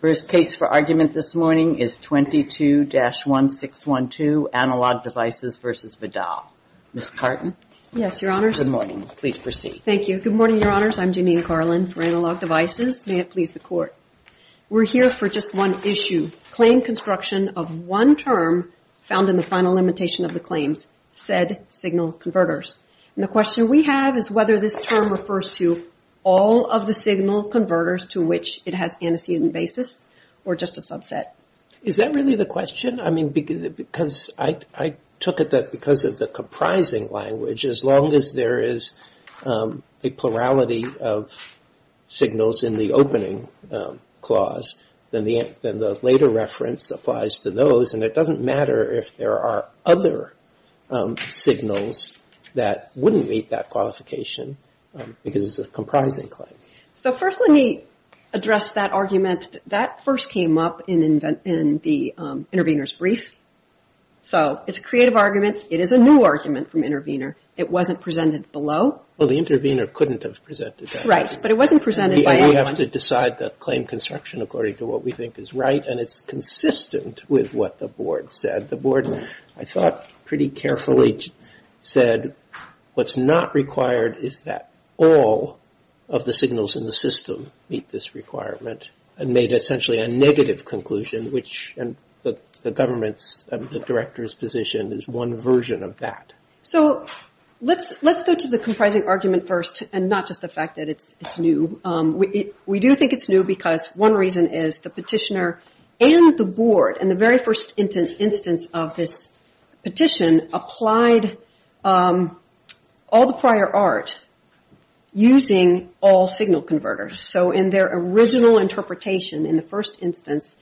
First case for argument this morning is 22-1612, Analog Devices v. Vidal. Ms. Carton. Yes, Your Honors. Good morning. Please proceed. Thank you. Good morning, Your Honors. I'm Janine Carlin for Analog Devices. May it please the Court. We're here for just one issue, claim construction of one term found in the final limitation of the claims, said signal converters. The question we have is whether this term refers to all of the signal converters to which it has antecedent basis or just a subset. Is that really the question? I mean, because I took it that because of the comprising language, as long as there is a plurality of signals in the opening clause, then the later reference applies to those and it doesn't matter if there are other signals that wouldn't meet that qualification because it's a comprising claim. So first, let me address that argument that first came up in the intervener's brief. So it's a creative argument. It is a new argument from intervener. It wasn't presented below. Well, the intervener couldn't have presented that. Right. But it wasn't presented by anyone. We have to decide the claim construction according to what we think is right and it's consistent with what the Board said. The Board, I thought, pretty carefully said what's not required is that all of the signals in the system meet this requirement and made essentially a negative conclusion, which the government's, the director's position is one version of that. So let's go to the comprising argument first and not just the fact that it's new. We do think it's new because one reason is the petitioner and the Board, in the very first instance of this petition, applied all the prior art using all signal converters. So in their original interpretation in the first instance,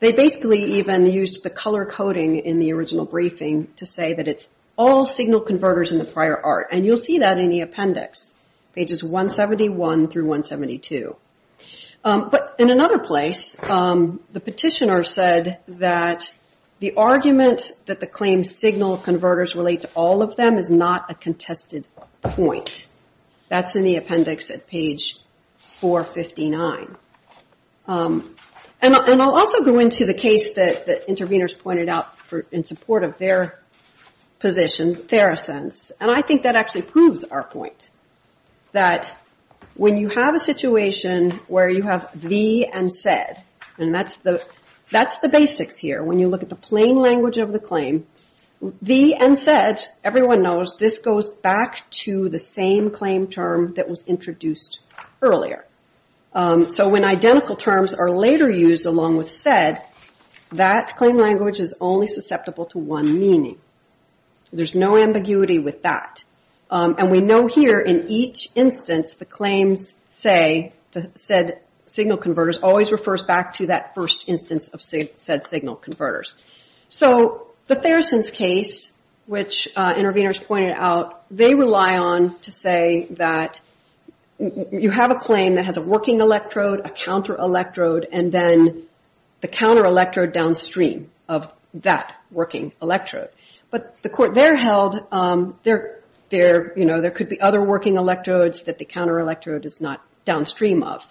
they basically even used the color coding in the original briefing to say that it's all signal converters in the prior art. And you'll see that in the appendix, pages 171 through 172. But in another place, the petitioner said that the argument that the claim signal converters relate to all of them is not a contested point. That's in the appendix at page 459. And I'll also go into the case that the interveners pointed out in support of their position, Theracense. And I think that actually proves our point. That when you have a situation where you have the and said, and that's the basics here. When you look at the plain language of the claim, the and said, everyone knows this goes back to the same claim term that was introduced earlier. So when identical terms are later used along with said, that claim language is only susceptible to one meaning. There's no ambiguity with that. And we know here in each instance, the claims say the said signal converters always refers back to that first instance of said signal converters. So the Theracense case, which interveners pointed out, they rely on to say that you have a claim that has a working electrode, a counter electrode, and then the counter working electrode. But the court there held there could be other working electrodes that the counter electrode is not downstream of.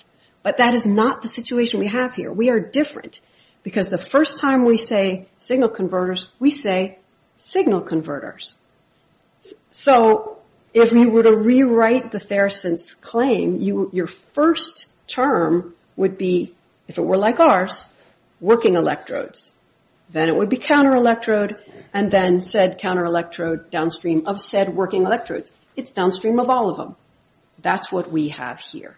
But that is not the situation we have here. We are different. Because the first time we say signal converters, we say signal converters. So if you were to rewrite the Theracense claim, your first term would be, if it were like working electrodes, then it would be counter electrode, and then said counter electrode downstream of said working electrodes. It's downstream of all of them. That's what we have here.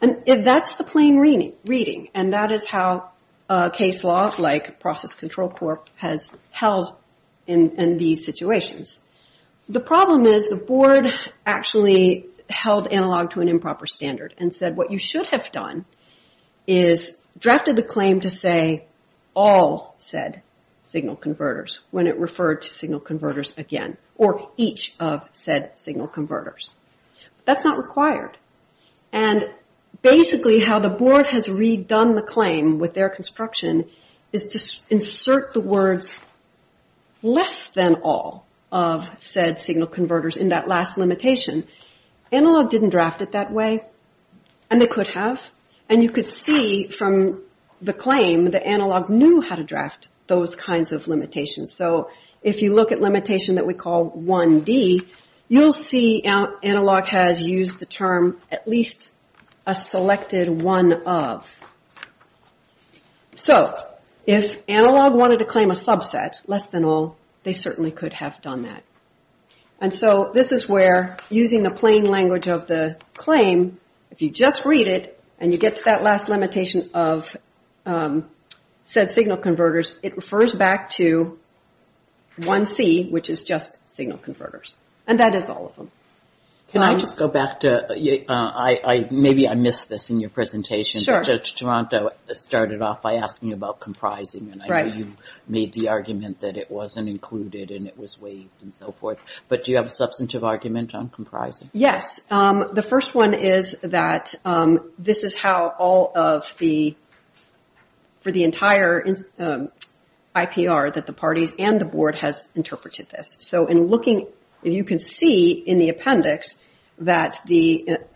And that's the plain reading. And that is how a case law like process control court has held in these situations. The problem is the board actually held analog to an improper standard and said what you should have done is drafted the claim to say all said signal converters when it referred to signal converters again, or each of said signal converters. That's not required. And basically how the board has redone the claim with their construction is to insert the words less than all of said signal converters in that last limitation. Analog didn't draft it that way, and they could have. And you could see from the claim that analog knew how to draft those kinds of limitations. So if you look at limitation that we call 1D, you'll see analog has used the term at least a selected one of. So if analog wanted to claim a subset, less than all, they certainly could have done that. And so this is where using the plain language of the claim, if you just read it and you get to that last limitation of said signal converters, it refers back to 1C, which is just signal converters. And that is all of them. Can I just go back to, maybe I missed this in your presentation, but Judge Toronto started off by asking about comprising, and I know you made the argument that it wasn't included and it was waived and so forth, but do you have a substantive argument on comprising? Yes. The first one is that this is how all of the, for the entire IPR that the parties and the board has interpreted this. So in looking, you can see in the appendix that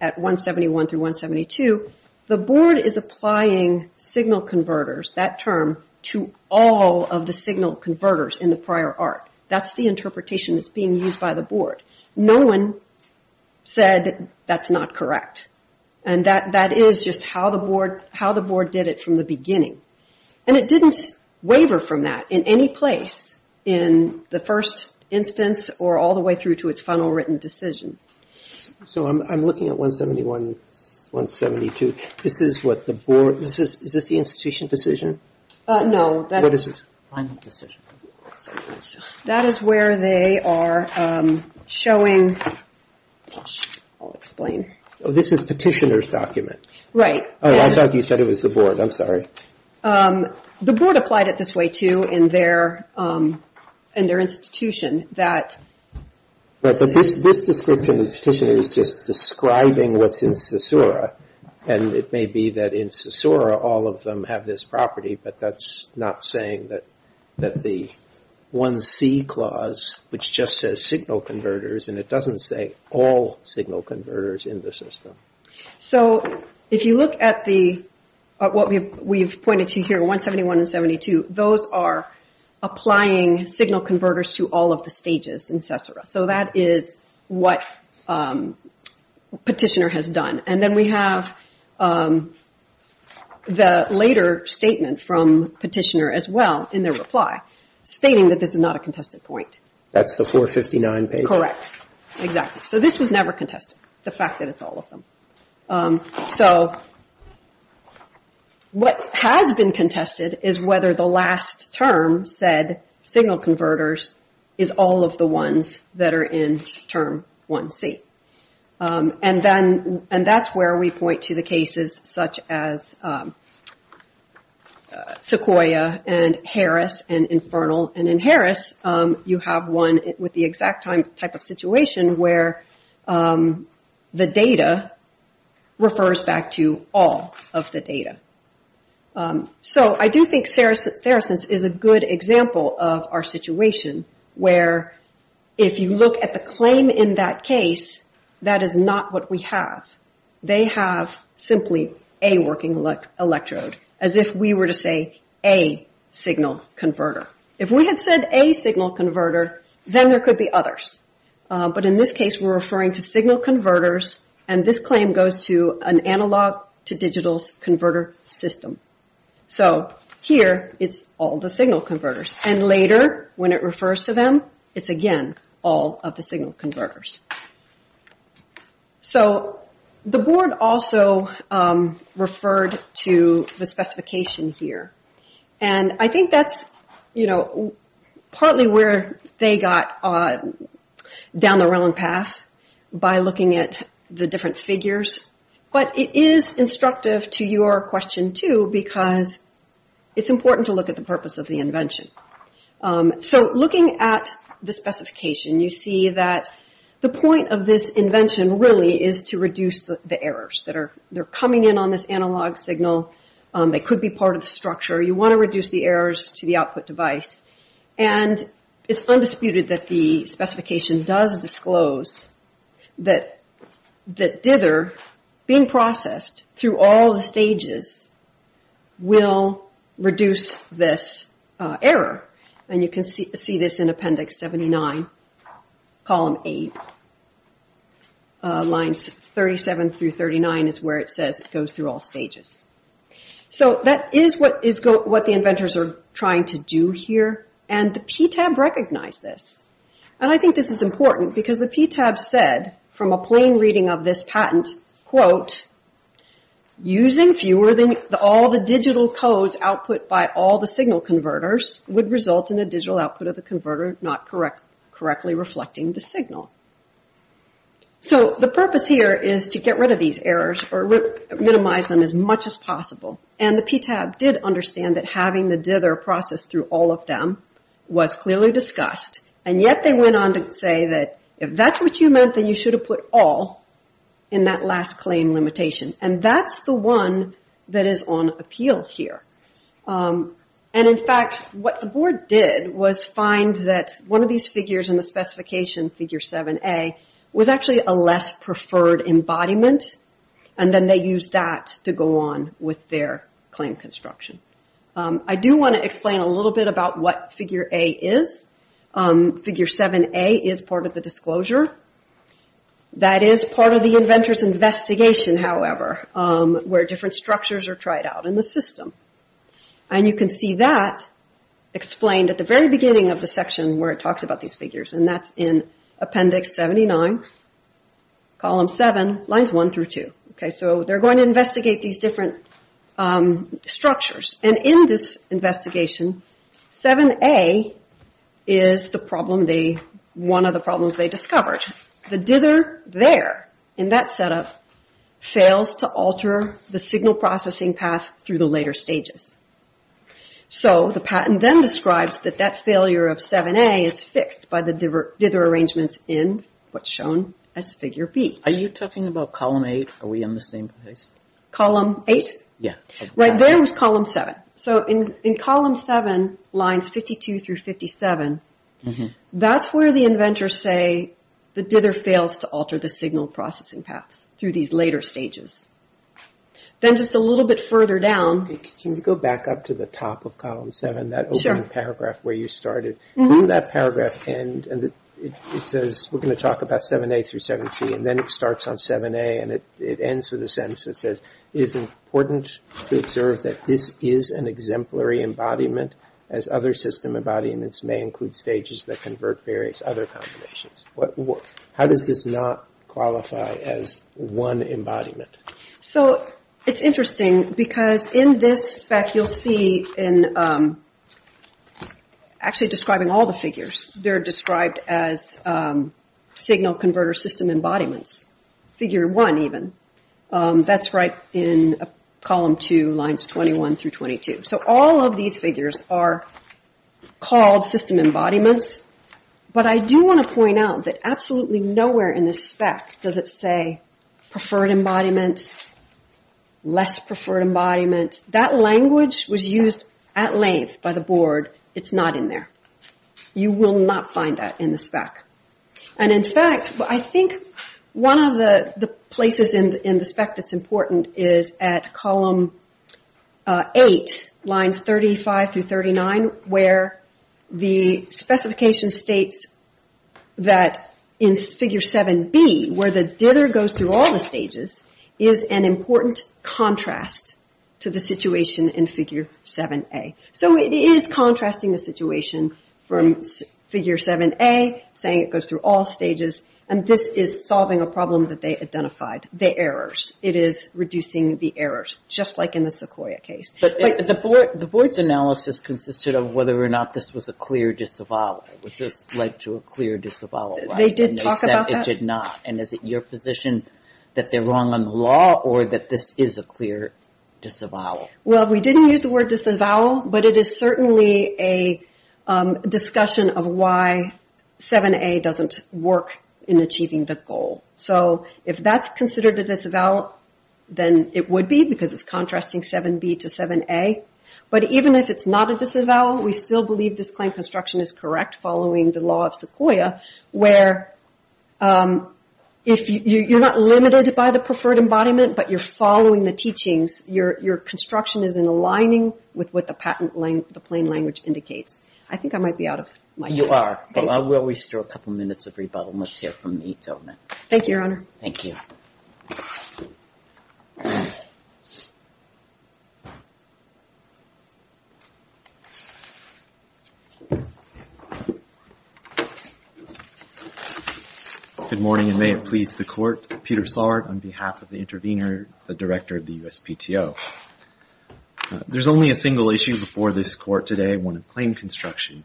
at 171 through 172, the board is applying signal converters, that term, to all of the signal converters in the prior art. That's the interpretation that's being used by the board. No one said that's not correct. And that is just how the board did it from the beginning. And it didn't waiver from that in any place in the first instance or all the way through to its final written decision. So I'm looking at 171, 172. This is what the board, is this the institution decision? No. What is it? Final decision. That is where they are showing, I'll explain. This is petitioner's document. Right. Oh, I thought you said it was the board, I'm sorry. The board applied it this way too in their institution. But this description of the petitioner is just describing what's in CSORA and it may be that in CSORA all of them have this property, but that's not saying that the 1C clause, which just says signal converters, and it doesn't say all signal converters in the system. So if you look at what we've pointed to here, 171 and 172, those are applying signal converters to all of the stages in CSORA. So that is what petitioner has done. And then we have the later statement from petitioner as well in their reply stating that this is not a contested point. That's the 459 page? Correct. Exactly. So this was never contested, the fact that it's all of them. So what has been contested is whether the last term said signal converters is all of the ones that are in term 1C. And that's where we point to the cases such as Sequoia and Harris and Infernal. And in Harris, you have one with the exact type of situation where the data refers back to all of the data. So I do think Saracens is a good example of our situation where if you look at the claim in that case, that is not what we have. They have simply a working electrode, as if we were to say a signal converter. If we had said a signal converter, then there could be others. But in this case, we're referring to signal converters and this claim goes to an analog to digital converter system. So here, it's all the signal converters and later when it refers to them, it's again all of the signal converters. So the board also referred to the specification here. And I think that's partly where they got down the wrong path by looking at the different figures. But it is instructive to your question too because it's important to look at the purpose of the invention. So looking at the specification, you see that the point of this invention really is to reduce the errors that are coming in on this analog signal. They could be part of the structure. You want to reduce the errors to the output device. And it's undisputed that the specification does disclose that dither being processed through all the stages will reduce this error. And you can see this in Appendix 79, Column 8, Lines 37 through 39 is where it says it So that is what the inventors are trying to do here. And the PTAB recognized this. And I think this is important because the PTAB said from a plain reading of this patent quote, using fewer than all the digital codes output by all the signal converters would result in a digital output of the converter not correctly reflecting the signal. So the purpose here is to get rid of these errors or minimize them as much as possible. And the PTAB did understand that having the dither processed through all of them was clearly discussed and yet they went on to say that if that's what you meant, then you should have put all in that last claim limitation. And that's the one that is on appeal here. And in fact, what the board did was find that one of these figures in the specification figure 7A was actually a less preferred embodiment and then they used that to go on with their claim construction. I do want to explain a little bit about what figure A is. Figure 7A is part of the disclosure. That is part of the inventor's investigation, however, where different structures are tried out in the system. And you can see that explained at the very beginning of the section where it talks about these figures. And that's in appendix 79, column 7, lines 1 through 2. So they're going to investigate these different structures. And in this investigation, 7A is one of the problems they discovered. The dither there, in that setup, fails to alter the signal processing path through the later stages. So the patent then describes that that failure of 7A is fixed by the dither arrangements in what's shown as figure B. Are you talking about column 8? Are we on the same page? Column 8? Yeah. Right there was column 7. So in column 7, lines 52 through 57, that's where the inventors say the dither fails to alter the signal processing path through these later stages. Then just a little bit further down. Can you go back up to the top of column 7, that opening paragraph where you started? Mm-hmm. Didn't that paragraph end, and it says we're going to talk about 7A through 7C, and then it starts on 7A, and it ends with a sentence that says, it is important to observe that this is an exemplary embodiment, as other system embodiments may include stages that convert various other combinations. How does this not qualify as one embodiment? So it's interesting, because in this spec you'll see, actually describing all the figures, they're described as signal converter system embodiments, figure 1 even. That's right in column 2, lines 21 through 22. So all of these figures are called system embodiments, but I do want to point out that absolutely nowhere in this spec does it say preferred embodiment, less preferred embodiment. That language was used at length by the board. It's not in there. You will not find that in the spec. And in fact, I think one of the places in the spec that's important is at column 8, lines 35 through 39, where the specification states that in figure 7B, where the dither goes through all the stages, is an important contrast to the situation in figure 7A. So it is contrasting the situation from figure 7A, saying it goes through all stages, and this is solving a problem that they identified, the errors. It is reducing the errors, just like in the Sequoia case. But the board's analysis consisted of whether or not this was a clear disavowal. Would this lead to a clear disavowal? They did talk about that? It did not. And is it your position that they're wrong on the law, or that this is a clear disavowal? Well, we didn't use the word disavowal, but it is certainly a discussion of why 7A doesn't work in achieving the goal. So if that's considered a disavowal, then it would be, because it's contrasting 7B to 7A. But even if it's not a disavowal, we still believe this claim construction is correct following the law of Sequoia, where you're not limited by the preferred embodiment, but you're following the teachings. Your construction is in aligning with what the patent, the plain language indicates. I think I might be out of my time. You are. Well, we still have a couple minutes of rebuttal, and let's hear from the government. Thank you, Your Honor. Thank you. Good morning, and may it please the Court. I'm Peter Saurd on behalf of the intervener, the director of the USPTO. There's only a single issue before this Court today, one of claim construction.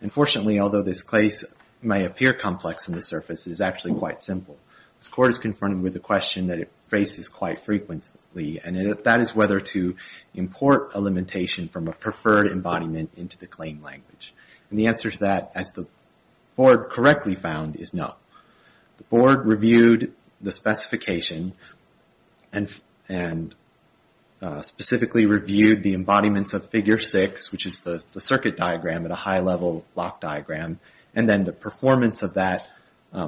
And fortunately, although this case may appear complex on the surface, it is actually quite simple. This Court is confronted with a question that it faces quite frequently, and that is whether to import a limitation from a preferred embodiment into the claim language. And the answer to that, as the Board correctly found, is no. The Board reviewed the specification and specifically reviewed the embodiments of Figure 6, which is the circuit diagram at a high-level block diagram, and then the performance of that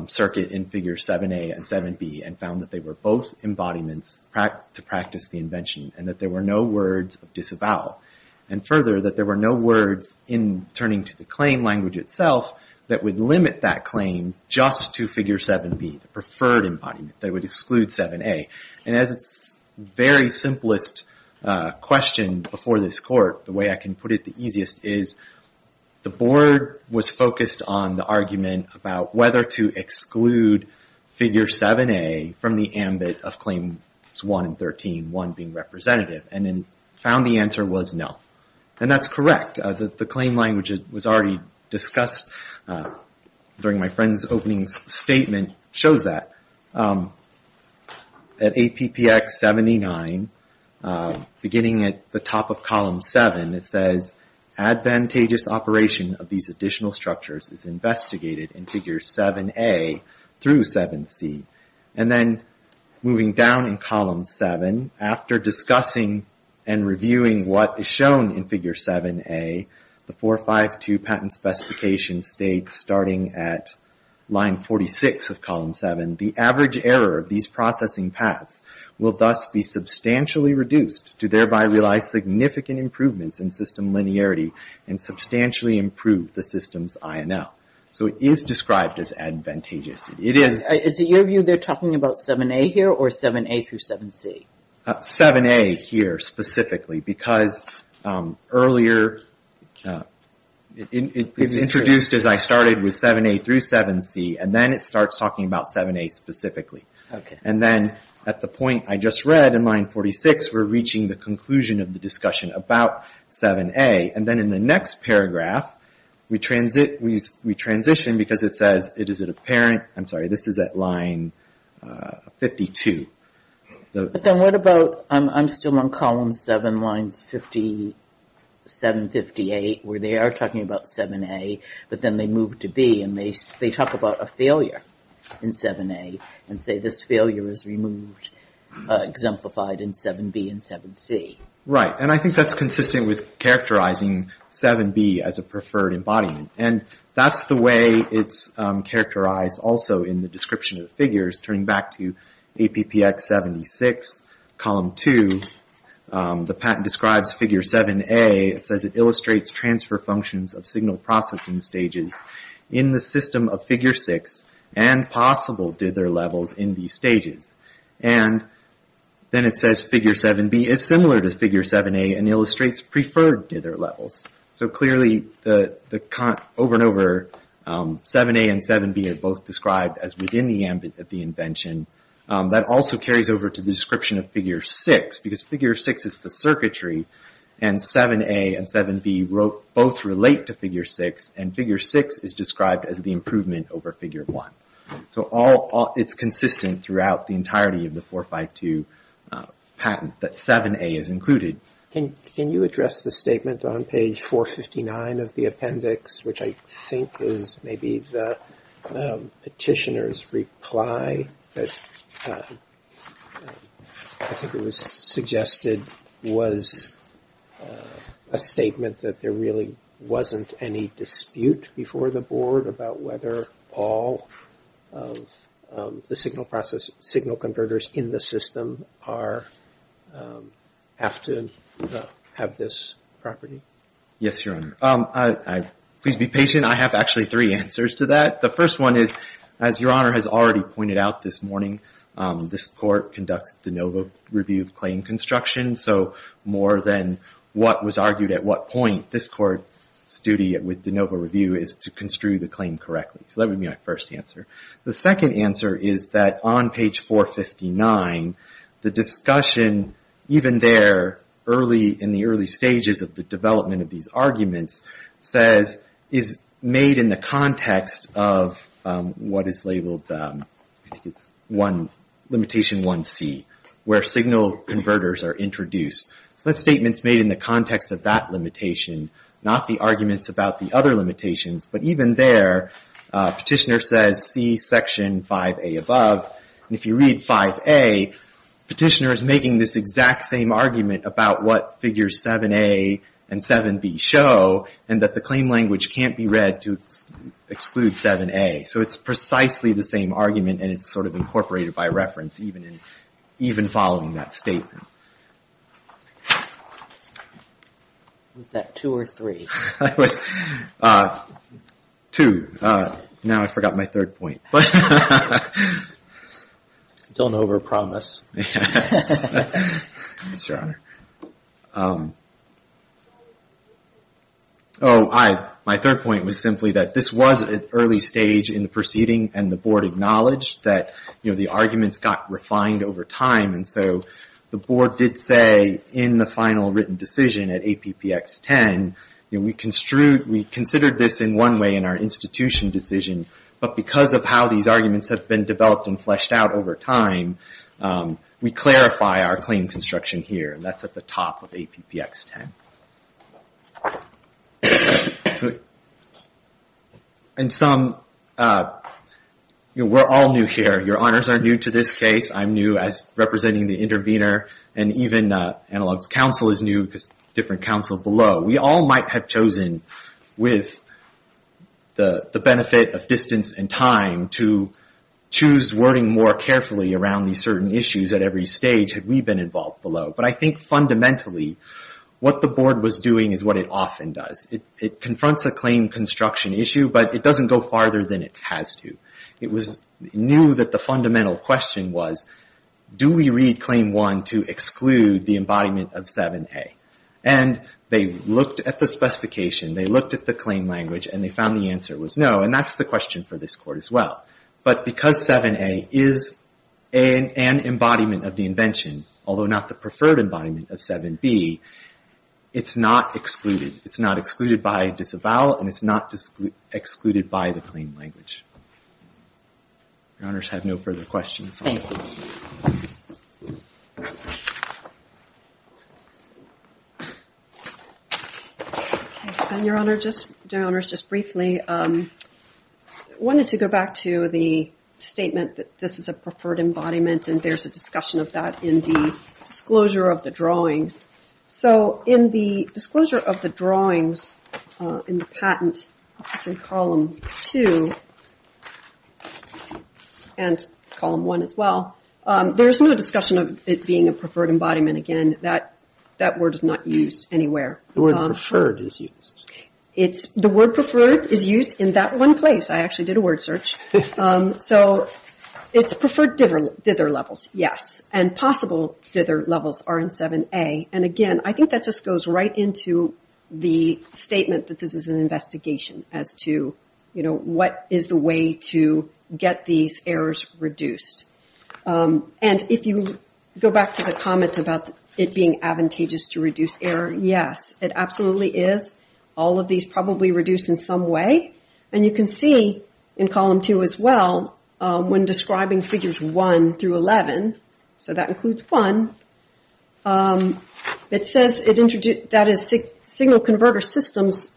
circuit in Figure 7a and 7b, and found that they were both embodiments to practice the invention, and that there were no words of disavowal. And further, that there were no words in turning to the claim language itself that would limit that claim just to Figure 7b, the preferred embodiment, that would exclude 7a. And as its very simplest question before this Court, the way I can put it the easiest is, the Board was focused on the argument about whether to exclude Figure 7a from the ambit of Claims 1 and 13, 1 being representative, and then found the answer was no. And that's correct. The claim language was already discussed during my friend's opening statement, shows that. At APPX 79, beginning at the top of Column 7, it says, advantageous operation of these additional structures is investigated in Figure 7a through 7c. And then moving down in Column 7, after discussing and reviewing what is shown in Figure 7a, the 452 Patent Specification states, starting at line 46 of Column 7, the average error of these processing paths will thus be substantially reduced to thereby realize significant improvements in system linearity and substantially improve the system's INL. So it is described as advantageous. Is it your view they're talking about 7a here or 7a through 7c? 7a here specifically, because earlier it was introduced as I started with 7a through 7c, and then it starts talking about 7a specifically. And then at the point I just read in line 46, we're reaching the conclusion of the discussion about 7a. And then in the next paragraph, we transition because it says, is it apparent, I'm sorry, this is at line 52. But then what about, I'm still on Column 7, lines 57, 58, where they are talking about 7a, but then they move to b, and they talk about a failure in 7a, and say this failure is removed, exemplified in 7b and 7c. Right, and I think that's consistent with characterizing 7b as a preferred embodiment. And that's the way it's characterized also in the description of the figures, turning back to APPX 76, Column 2. The patent describes Figure 7a, it says it illustrates transfer functions of signal processing stages in the system of Figure 6, and possible dither levels in these stages. And then it says Figure 7b is similar to Figure 7a, and illustrates preferred dither levels. So clearly, over and over, 7a and 7b are both described as within the ambit of the invention. That also carries over to the description of Figure 6, because Figure 6 is the circuitry, and 7a and 7b both relate to Figure 6, and Figure 6 is described as the improvement over Figure 1. So it's consistent throughout the entirety of the 452 patent that 7a is included. Can you address the statement on page 459 of the appendix, which I think is maybe the petitioner's reply, I think it was suggested, was a statement that there really wasn't any dispute before the Board about whether all the signal converters in the system have to have this property? Yes, Your Honor. Please be patient. I have actually three answers to that. The first one is, as Your Honor has already pointed out this morning, this Court conducts de novo review of claim construction. So more than what was argued at what point, this Court's duty with de novo review is to construe the claim correctly. So that would be my first answer. The second answer is that on page 459, the discussion, even there in the early stages of the development of these arguments, is made in the context of what is labeled Limitation 1c, where signal converters are introduced. So that statement's made in the context of that limitation, not the arguments about the other limitations. But even there, petitioner says, see Section 5a above. If you read 5a, petitioner is making this exact same argument about what figures 7a and 7b show, and that the claim language can't be read to exclude 7a. So it's precisely the same argument, and it's sort of incorporated by reference, even following that statement. Was that two or three? That was two. Now I forgot my third point. Yes, Your Honor. Oh, my third point was simply that this was an early stage in the proceeding, and the Board acknowledged that the arguments got refined over time. And so the Board did say in the final written decision at APPX 10, we considered this in one way in our institution decision, but because of how these arguments have been developed and fleshed out over time, we clarify our claim construction here. And that's at the top of APPX 10. And some, we're all new here. Your Honors are new to this case. I'm new as representing the intervener. And even Analog's counsel is new, because different counsel below. We all might have chosen, with the benefit of distance and time, to choose wording more carefully around these certain issues at every stage had we been involved below. But I think fundamentally, what the Board was doing is what it often does. It confronts a claim construction issue, but it doesn't go farther than it has to. It knew that the fundamental question was, do we read Claim 1 to exclude the embodiment of 7A? And they looked at the specification, they looked at the claim language, and they found the answer was no. And that's the question for this Court as well. But because 7A is an embodiment of the invention, although not the preferred embodiment of 7B, it's not excluded. It's not excluded by disavowal, and it's not excluded by the claim language. Your Honors have no further questions. Thank you. Your Honors, just briefly, I wanted to go back to the statement that this is a preferred embodiment, and there's a discussion of that in the disclosure of the drawings. So in the disclosure of the drawings in the patent, which is in Column 2, and Column 1 as well, there's no discussion of it being a preferred embodiment, again, that word is not used anywhere. The word preferred is used. The word preferred is used in that one place. I actually did a word search. So it's preferred dither levels, yes. And possible dither levels are in 7A. And again, I think that just goes right into the statement that this is an investigation as to what is the way to get these errors reduced. And if you go back to the comment about it being advantageous to reduce error, yes, it absolutely is. All of these probably reduce in some way. And you can see in Column 2 as well, when describing Figures 1 through 11, so that includes 1, it says that is signal converter systems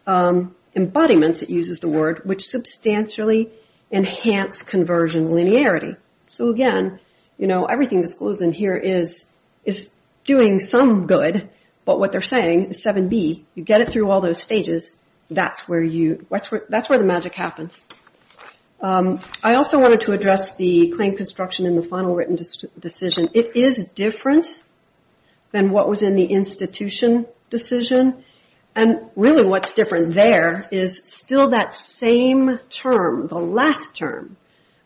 embodiments, it uses the word, which substantially enhance conversion linearity. So again, you know, everything disclosed in here is doing some good, but what they're saying is 7B, you get it through all those stages, that's where the magic happens. I also wanted to address the claim construction in the final written decision. It is different than what was in the institution decision. And really what's different there is still that same term, the last term.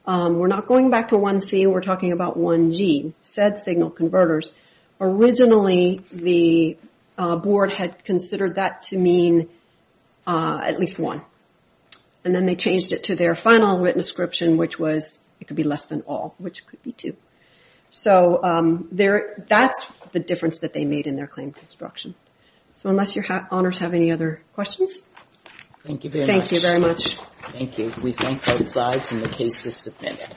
We're not going back to 1C, we're talking about 1G, said signal converters. Originally, the board had considered that to mean at least one. And then they changed it to their final written description, which was, it could be less than all, which could be two. So that's the difference that they made in their claim construction. So unless your honors have any other questions. Thank you very much. We thank both sides and the case is submitted.